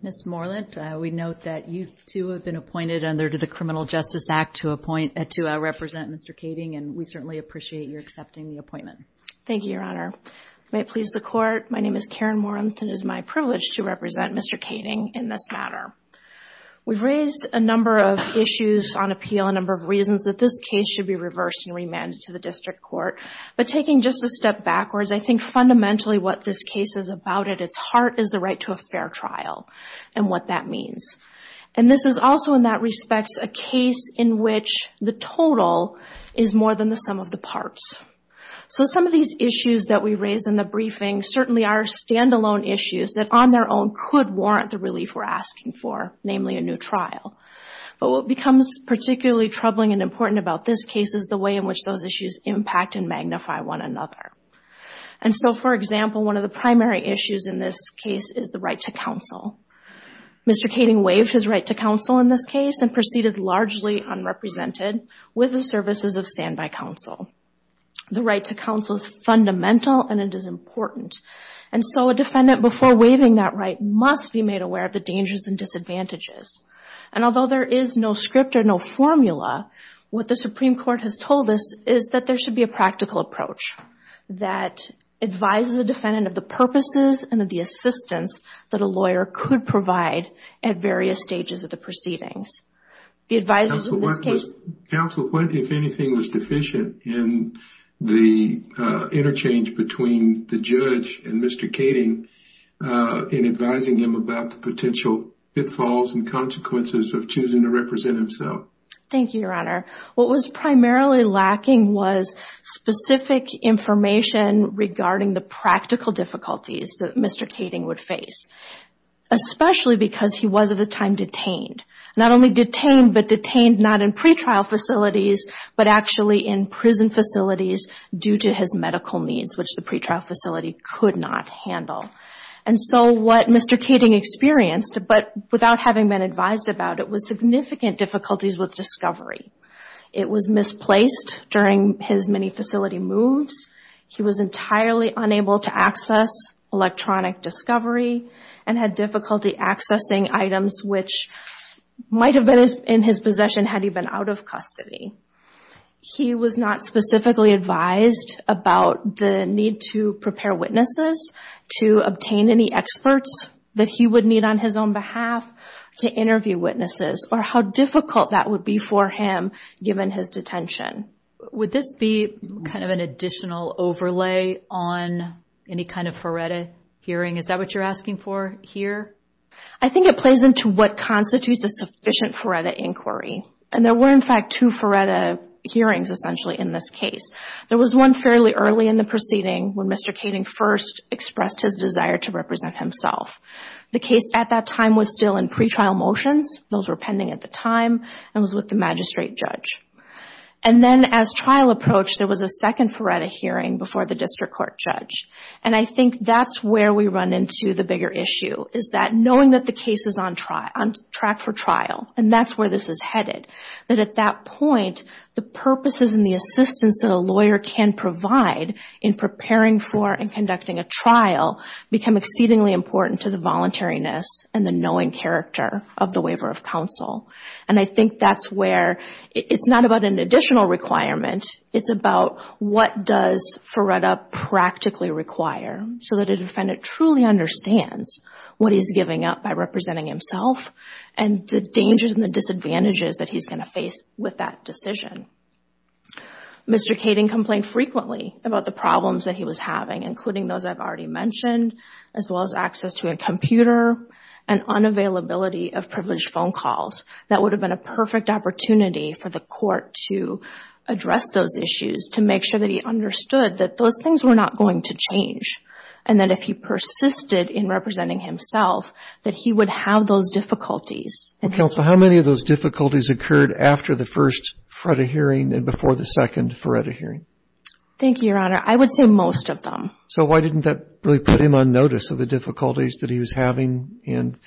Ms. Morland, we note that you, too, have been appointed under the Criminal Justice Act to represent Mr. Kaeding. And we certainly appreciate your accepting the appointment. Thank you, Your Honor. May it please the Court, my name is Karen Morland, and it is my privilege to represent Mr. Kaeding in this matter. We've raised a number of issues on appeal, a number of reasons that this case should be reversed and remanded to the district court. But taking just a step backwards, I think fundamentally what this case is about at its heart is the right to a fair trial and what that means. And this is also, in that respect, a case in which the total is more than the sum of the parts. So some of these issues that we raised in the briefing certainly are standalone issues that, on their own, could warrant the relief we're asking for, namely a new trial. But what becomes particularly troubling and important about this case is the way in which those issues impact and magnify one another. And so, for example, one of the primary issues in this case is the right to counsel. Mr. Kaeding waived his right to counsel in this case and proceeded largely unrepresented with the services of standby counsel. The right to counsel is fundamental, and it is important. And so a defendant, before waiving that right, must be made aware of the dangers and disadvantages. And although there is no script or no formula, what the Supreme Court has told us is that there should be a practical approach that advises the defendant of the purposes and of the assistance that a lawyer could provide at various stages of the proceedings. The advisors in this case- Counsel, what, if anything, was deficient in the interchange between the judge and Mr. Kaeding in advising him about the potential pitfalls and consequences of choosing to represent himself? Thank you, Your Honor. What was primarily lacking was specific information regarding the practical difficulties that Mr. Kaeding would face, especially because he was, at the time, detained. Not only detained, but detained not in pretrial facilities, but actually in prison facilities due to his medical needs, which the pretrial facility could not handle. And so what Mr. Kaeding experienced, but without having been advised about it, was significant difficulties with discovery. It was misplaced during his many facility moves. He was entirely unable to access electronic discovery and had difficulty accessing items which might have been in his possession had he been out of custody. He was not specifically advised about the need to prepare witnesses to obtain any experts that he would need on his own behalf to interview witnesses or how difficult that would be for him given his detention. Would this be kind of an additional overlay on any kind of FARETA hearing? Is that what you're asking for here? I think it plays into what constitutes a sufficient FARETA inquiry. And there were, in fact, two FARETA hearings, essentially, in this case. There was one fairly early in the proceeding when Mr. Kaeding first expressed his desire to represent himself. The case at that time was still in pretrial motions. Those were pending at the time and was with the magistrate judge. And then as trial approached, there was a second FARETA hearing before the district court judge. And I think that's where we run into the bigger issue, is that knowing that the case is on track for trial, and that's where this is headed. That at that point, the purposes and the assistance that a lawyer can provide in preparing for and conducting a trial become exceedingly important to the voluntariness and the knowing character of the waiver of counsel. And I think that's where it's not about an additional requirement. It's about what does FARETA practically require so that a defendant truly understands what he's giving up by representing himself and the dangers and the disadvantages that he's going to face with that decision. Mr. Kaeding complained frequently about the problems that he was having, including those I've already mentioned, as well as access to a computer and unavailability of privileged phone calls. That would have been a perfect opportunity for the court to address those issues, to make sure that he understood that those things were not going to change. And that if he persisted in representing himself, that he would have those difficulties. Counsel, how many of those difficulties occurred after the first FARETA hearing and before the second FARETA hearing? Thank you, Your Honor. I would say most of them. So why didn't that really put him on notice of the difficulties that he was having and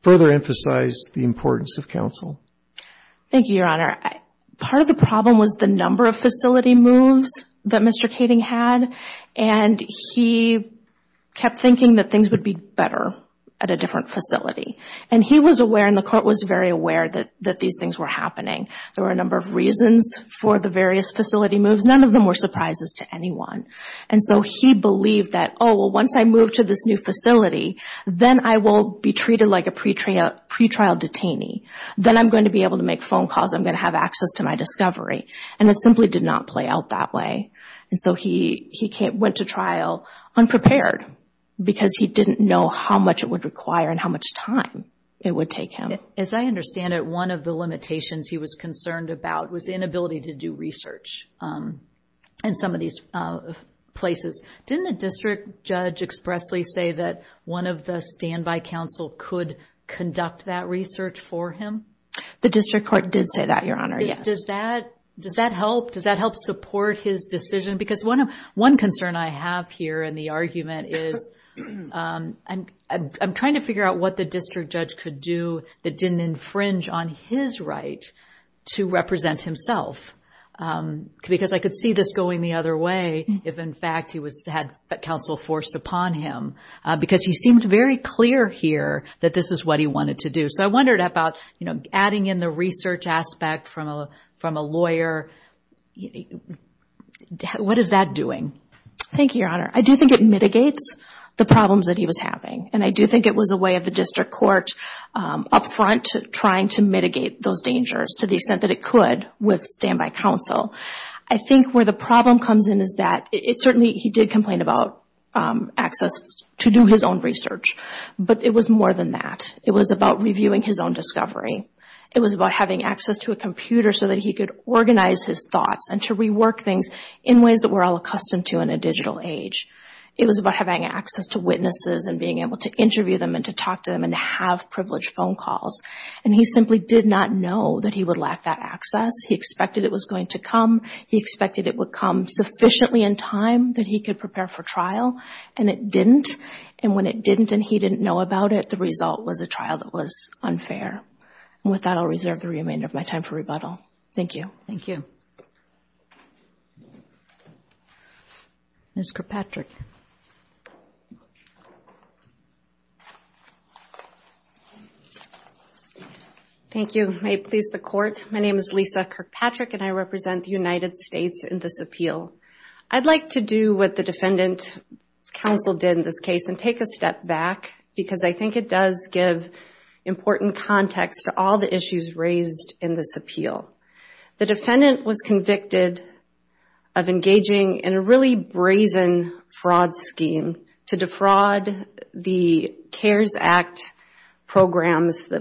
further emphasize the importance of counsel? Thank you, Your Honor. Part of the problem was the number of facility moves that Mr. Kaeding had. And he kept thinking that things would be better at a different facility. And he was aware, and the court was very aware, that these things were happening. There were a number of reasons for the various facility moves. None of them were surprises to anyone. And so he believed that, oh, well, once I move to this new facility, then I will be treated like a pretrial detainee. Then I'm going to be able to make phone calls. I'm going to have access to my discovery. And it simply did not play out that way. And so he went to trial unprepared because he didn't know how much it would require and how much time it would take him. As I understand it, one of the limitations he was concerned about was the inability to do research in some of these places. Didn't the district judge expressly say that one of the standby counsel could conduct that research for him? The district court did say that, Your Honor, yes. Does that help? Does that help support his decision? Because one concern I have here in the argument is I'm trying to figure out what the district judge could do that didn't infringe on his right to represent himself. Because I could see this going the other way if, in fact, he had counsel forced upon him. Because he seemed very clear here that this is what he wanted to do. So I wondered about adding in the research aspect from a lawyer. What is that doing? Thank you, Your Honor. I do think it mitigates the problems that he was having. And I do think it was a way of the district court up front trying to mitigate those dangers to the extent that it could with standby counsel. I think where the problem comes in is that certainly he did complain about access to do his own research. But it was more than that. It was about reviewing his own discovery. It was about having access to a computer so that he could organize his thoughts and to rework things in ways that we're all accustomed to in a digital age. It was about having access to witnesses and being able to interview them and to talk to them and to have privileged phone calls. And he simply did not know that he would lack that access. He expected it was going to come. He expected it would come sufficiently in time that he could prepare for trial. And it didn't. And when it didn't and he didn't know about it, the result was a trial that was unfair. And with that, I'll reserve the remainder of my time for rebuttal. Thank you. Thank you. Ms. Kirkpatrick. Thank you. May it please the Court, my name is Lisa Kirkpatrick and I represent the United States in this appeal. I'd like to do what the defendant's counsel did in this case and take a step back because I think it does give important context to all the issues raised in this appeal. The defendant was convicted of engaging in a really brazen fraud scheme to defraud the CARES Act programs, the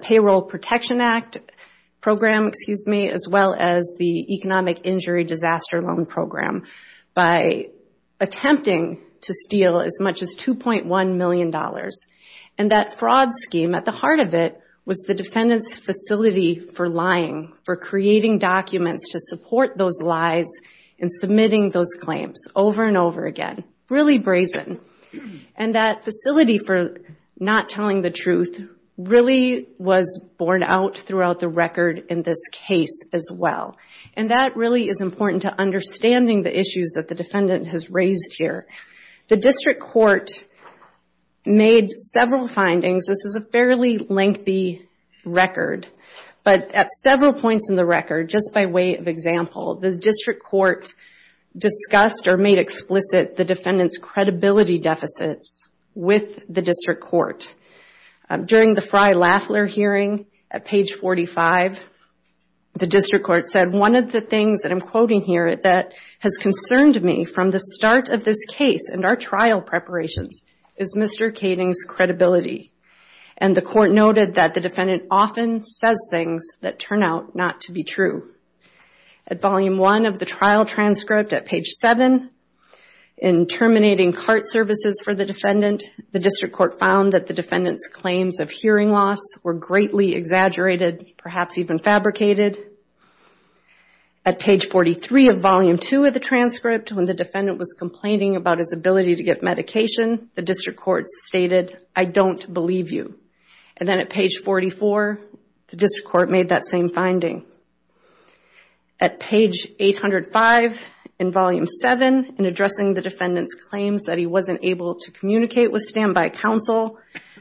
Payroll Protection Act program, as well as the Economic Injury Disaster Loan program by attempting to steal as much as $2.1 million. And that fraud scheme, at the heart of it, was the defendant's facility for lying, for creating documents to support those lies and submitting those claims over and over again. Really brazen. And that facility for not telling the truth really was borne out throughout the record in this case as well. And that really is important to understanding the issues that the defendant has raised here. The district court made several findings. This is a fairly lengthy record. But at several points in the record, just by way of example, the district court discussed or made explicit the defendant's credibility deficits with the district court. During the Frey-Laffler hearing at page 45, the district court said, one of the things that I'm quoting here that has concerned me from the start of this case and our trial preparations is Mr. Kading's credibility. And the court noted that the defendant often says things that turn out not to be true. At volume one of the trial transcript at page seven, in terminating CART services for the defendant, the district court found that the defendant's claims of hearing loss were greatly exaggerated, perhaps even fabricated. At page 43 of volume two of the transcript, when the defendant was complaining about his ability to get medication, the district court stated, I don't believe you. And then at page 44, the district court made that same finding. At page 805 in volume seven, in addressing the defendant's claims that he wasn't able to communicate with standby counsel,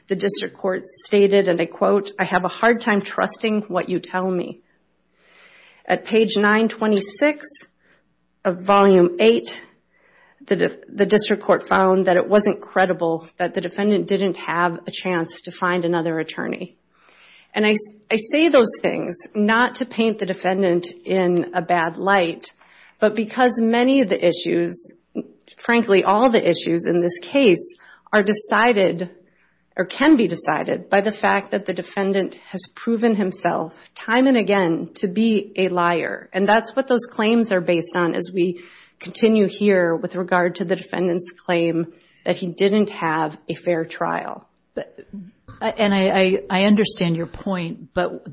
the district court stated, and I quote, I have a hard time trusting what you tell me. At page 926 of volume eight, the district court found that it wasn't credible that the defendant didn't have a chance to find another attorney. And I say those things not to paint the defendant in a bad light, but because many of the issues, frankly, all the issues in this case are decided, or can be decided, by the fact that the defendant has proven himself time and again to be a liar. And that's what those claims are based on as we continue here with regard to the defendant's claim that he didn't have a fair trial. And I understand your point, but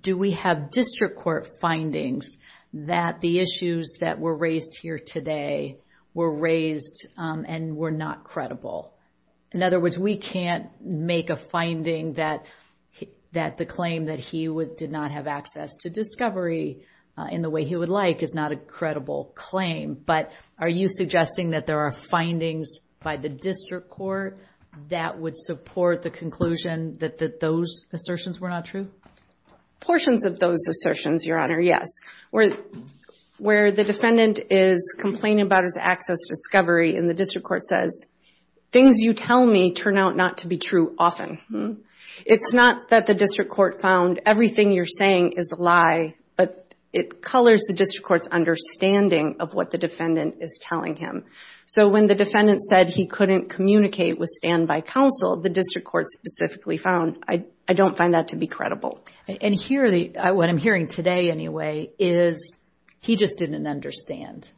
do we have district court findings that the issues that were raised here today were raised and were not credible? In other words, we can't make a finding that the claim that he did not have access to discovery in the way he would like is not a credible claim. But are you suggesting that there are findings by the district court that would support the conclusion that those assertions were not true? Portions of those assertions, Your Honor, yes. Where the defendant is complaining about his access to discovery, and the district court says, things you tell me turn out not to be true often. It's not that the district court found everything you're saying is a lie, but it colors the district court's understanding of what the defendant is telling him. So when the defendant said he couldn't communicate with standby counsel, the district court specifically found, I don't find that to be credible. And what I'm hearing today, anyway, is he just didn't understand.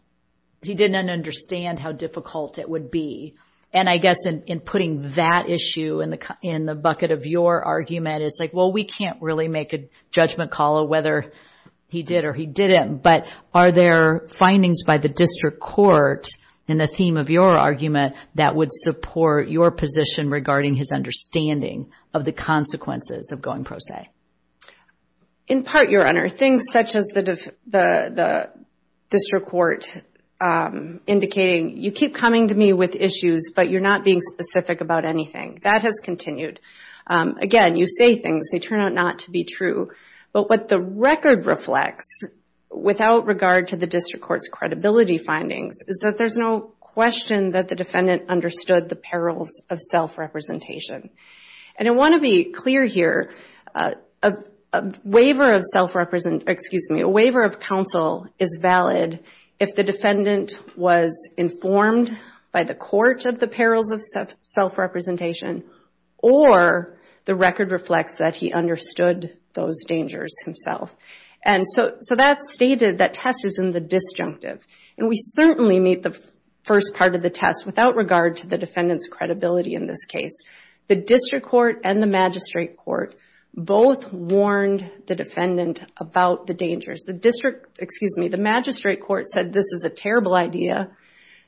He didn't understand how difficult it would be. And I guess in putting that issue in the bucket of your argument, it's like, well, we can't really make a judgment call of whether he did or he didn't. But are there findings by the district court in the theme of your argument that would support your position regarding his understanding of the consequences of going pro se? In part, Your Honor, things such as the district court indicating, you keep coming to me with issues, but you're not being specific about anything. That has continued. Again, you say things, they turn out not to be true. But what the record reflects, without regard to the district court's credibility findings, is that there's no question that the defendant understood the perils of self-representation. And I want to be clear here, a waiver of self-representation, excuse me, a waiver of counsel is valid if the defendant was informed by the court of the perils of self-representation, or the record reflects that he understood those dangers himself. And so that's stated, that test is in the disjunctive. And we certainly meet the first part of the test without regard to the defendant's credibility in this case. The district court and the magistrate court both warned the defendant about the dangers. The district, excuse me, the magistrate court said this is a terrible idea.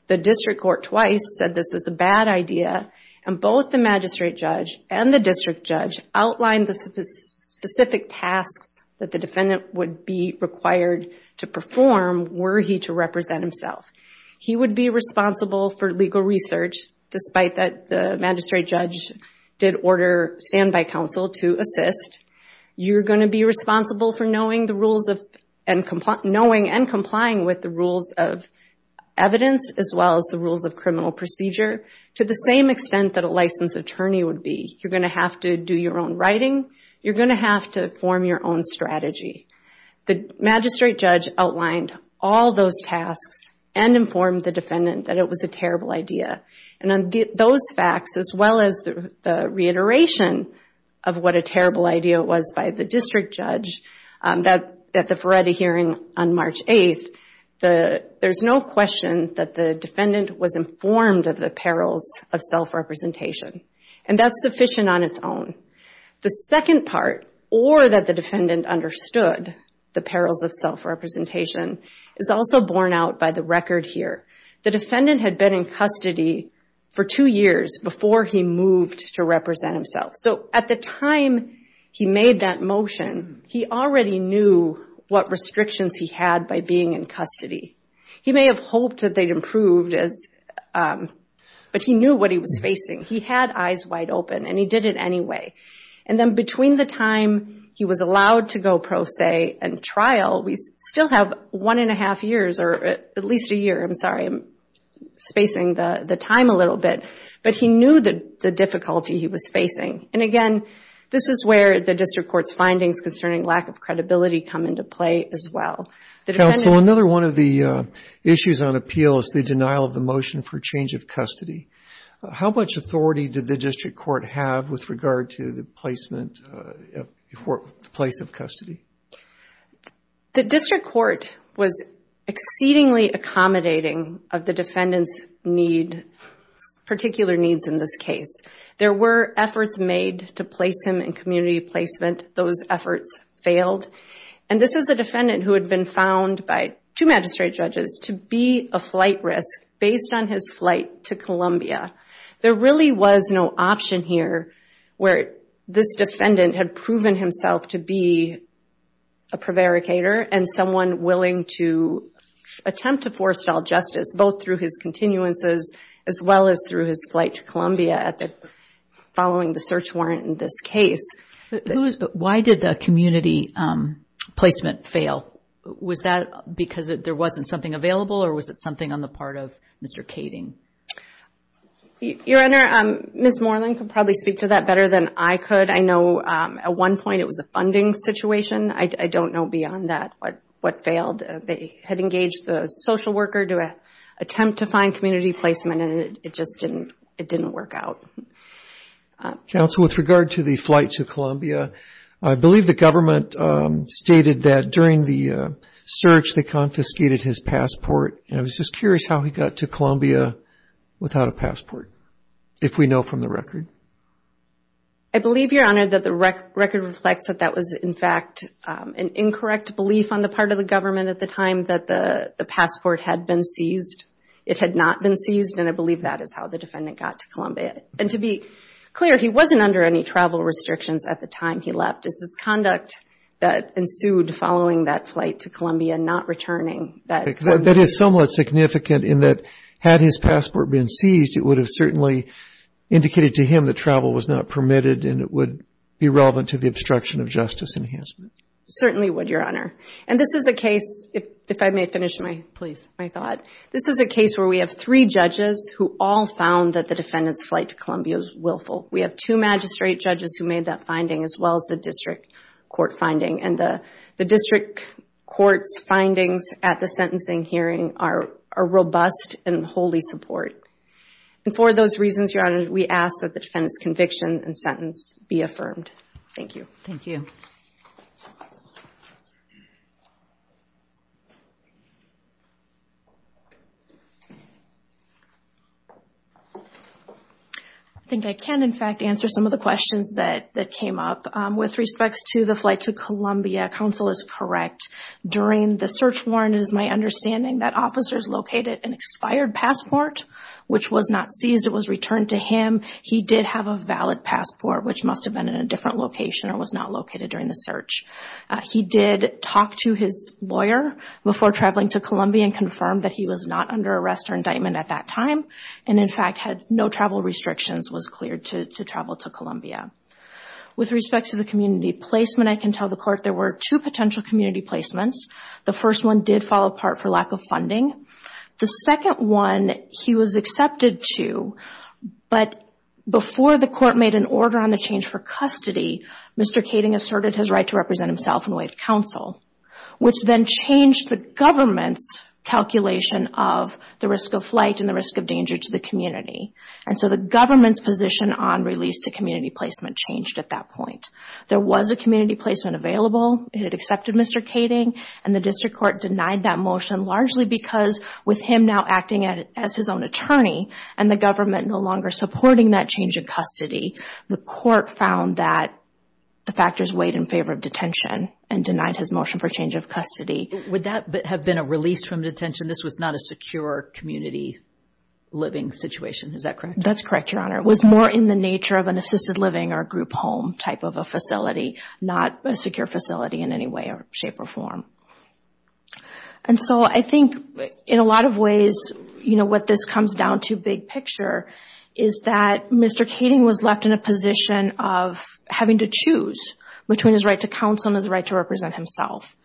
The district court twice said this is a bad idea. And both the magistrate judge and the district judge outlined the specific tasks that the defendant would be required to perform were he to represent himself. He would be responsible for legal research, despite that the magistrate judge did order standby counsel to assist. You're going to be responsible for knowing and complying with the rules of evidence, as well as the rules of criminal procedure, to the same extent that a licensed attorney would be. You're going to have to do your own writing. You're going to have to form your own strategy. The magistrate judge outlined all those tasks and informed the defendant that it was a terrible idea. And on those facts, as well as the reiteration of what a terrible idea it was by the district judge at the Ferretti hearing on March 8, there's no question that the defendant was informed of the perils of self-representation. And that's sufficient on its own. The second part, or that the defendant understood the perils of self-representation, is also borne out by the record here. The defendant had been in custody for two years before he moved to represent himself. So at the time he made that motion, he already knew what restrictions he had by being in custody. He may have hoped that they'd improved, but he knew what he was facing. He had eyes wide open, and he did it anyway. And then between the time he was allowed to go pro se and trial, we still have one and a half years, or at least a year, I'm sorry. I'm spacing the time a little bit. But he knew the difficulty he was facing. And again, this is where the district court's findings concerning lack of credibility come into play as well. The defendant- Counsel, another one of the issues on appeal is the denial of the motion for change of custody. How much authority did the district court have with regard to the placement, the place of custody? The district court was exceedingly accommodating of the defendant's particular needs in this case. There were efforts made to place him in community placement. Those efforts failed. And this is a defendant who had been found by two magistrate judges to be a flight risk based on his flight to Columbia. There really was no option here where this defendant had proven himself to be a prevaricator and someone willing to attempt to forestall justice, both through his continuances as well as through his flight to Columbia following the search warrant in this case. Why did the community placement fail? Was that because there wasn't something available, or was it something on the part of Mr. Kading? Your Honor, Ms. Moreland can probably speak to that better than I could. I know at one point it was a funding situation. I don't know beyond that what failed. They had engaged the social worker to attempt to find community placement, and it just didn't work out. Counsel, with regard to the flight to Columbia, I believe the government stated that during the search, they confiscated his passport, and I was just curious how he got to Columbia without a passport, if we know from the record. I believe, Your Honor, that the record reflects that that was, in fact, an incorrect belief on the part of the government at the time that the passport had been seized. It had not been seized, and I believe that is how the defendant got to Columbia. And to be clear, he wasn't under any travel restrictions at the time he left. It's his conduct that ensued following that flight to Columbia, not returning. That is somewhat significant in that, had his passport been seized, it would have certainly indicated to him that travel was not permitted, and it would be relevant to the obstruction of justice enhancement. Certainly would, Your Honor. And this is a case, if I may finish my thought, this is a case where we have three judges who all found that the defendant's flight to Columbia was willful. We have two magistrate judges who made that finding, as well as the district court finding. And the district court's findings at the sentencing hearing are robust and wholly support. And for those reasons, Your Honor, we ask that the defendant's conviction and sentence be affirmed. Thank you. Thank you. I think I can, in fact, answer some of the questions that came up. With respects to the flight to Columbia, counsel is correct. During the search warrant, it is my understanding that officers located an expired passport, which was not seized, it was returned to him. He did have a valid passport, which must have been in a different location or was not located during the search. He did talk to his lawyer before traveling to Columbia and confirmed that he was not under arrest or indictment at that time. And in fact, had no travel restrictions, was cleared to travel to Columbia. With respects to the community placement, I can tell the court there were two potential community placements. The first one did fall apart for lack of funding. The second one, he was accepted to, but before the court made an order on the change for custody, Mr. Kading asserted his right to represent himself in the way of counsel, which then changed the government's calculation of the risk of flight and the risk of danger to the community. And so the government's position on release to community placement changed at that point. There was a community placement available. It had accepted Mr. Kading and the district court denied that motion largely because with him now acting as his own attorney and the government no longer supporting that change of custody, the court found that the factors weighed in favor of detention and denied his motion for change of custody. Would that have been a release from detention? This was not a secure community living situation, is that correct? That's correct, Your Honor. It was more in the nature of an assisted living or a group home type of a facility, not a secure facility in any way or shape or form. And so I think in a lot of ways, what this comes down to big picture is that Mr. Kading was left in a position of having to choose between his right to counsel and his right to represent himself.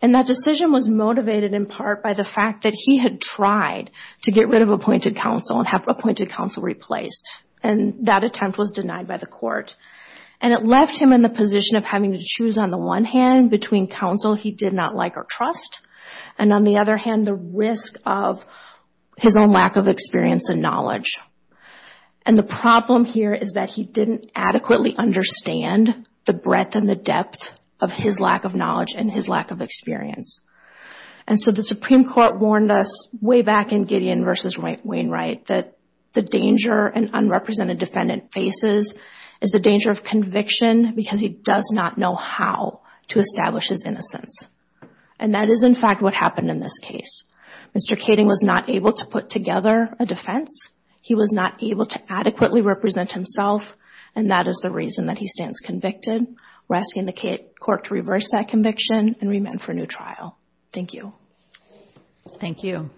And that decision was motivated in part by the fact that he had tried to get rid of appointed counsel and have appointed counsel replaced. And that attempt was denied by the court. And it left him in the position of having to choose on the one hand between counsel he did not like or trust, and on the other hand, the risk of his own lack of experience and knowledge. And the problem here is that he didn't adequately understand the breadth and the depth of his lack of knowledge and his lack of experience. And so the Supreme Court warned us way back in Gideon versus Wainwright that the danger an unrepresented defendant faces is the danger of conviction because he does not know how to establish his innocence. And that is in fact what happened in this case. Mr. Kading was not able to put together a defense. He was not able to adequately represent himself. And that is the reason that he stands convicted. We're asking the court to reverse that conviction and remand for a new trial. Thank you. Thank you.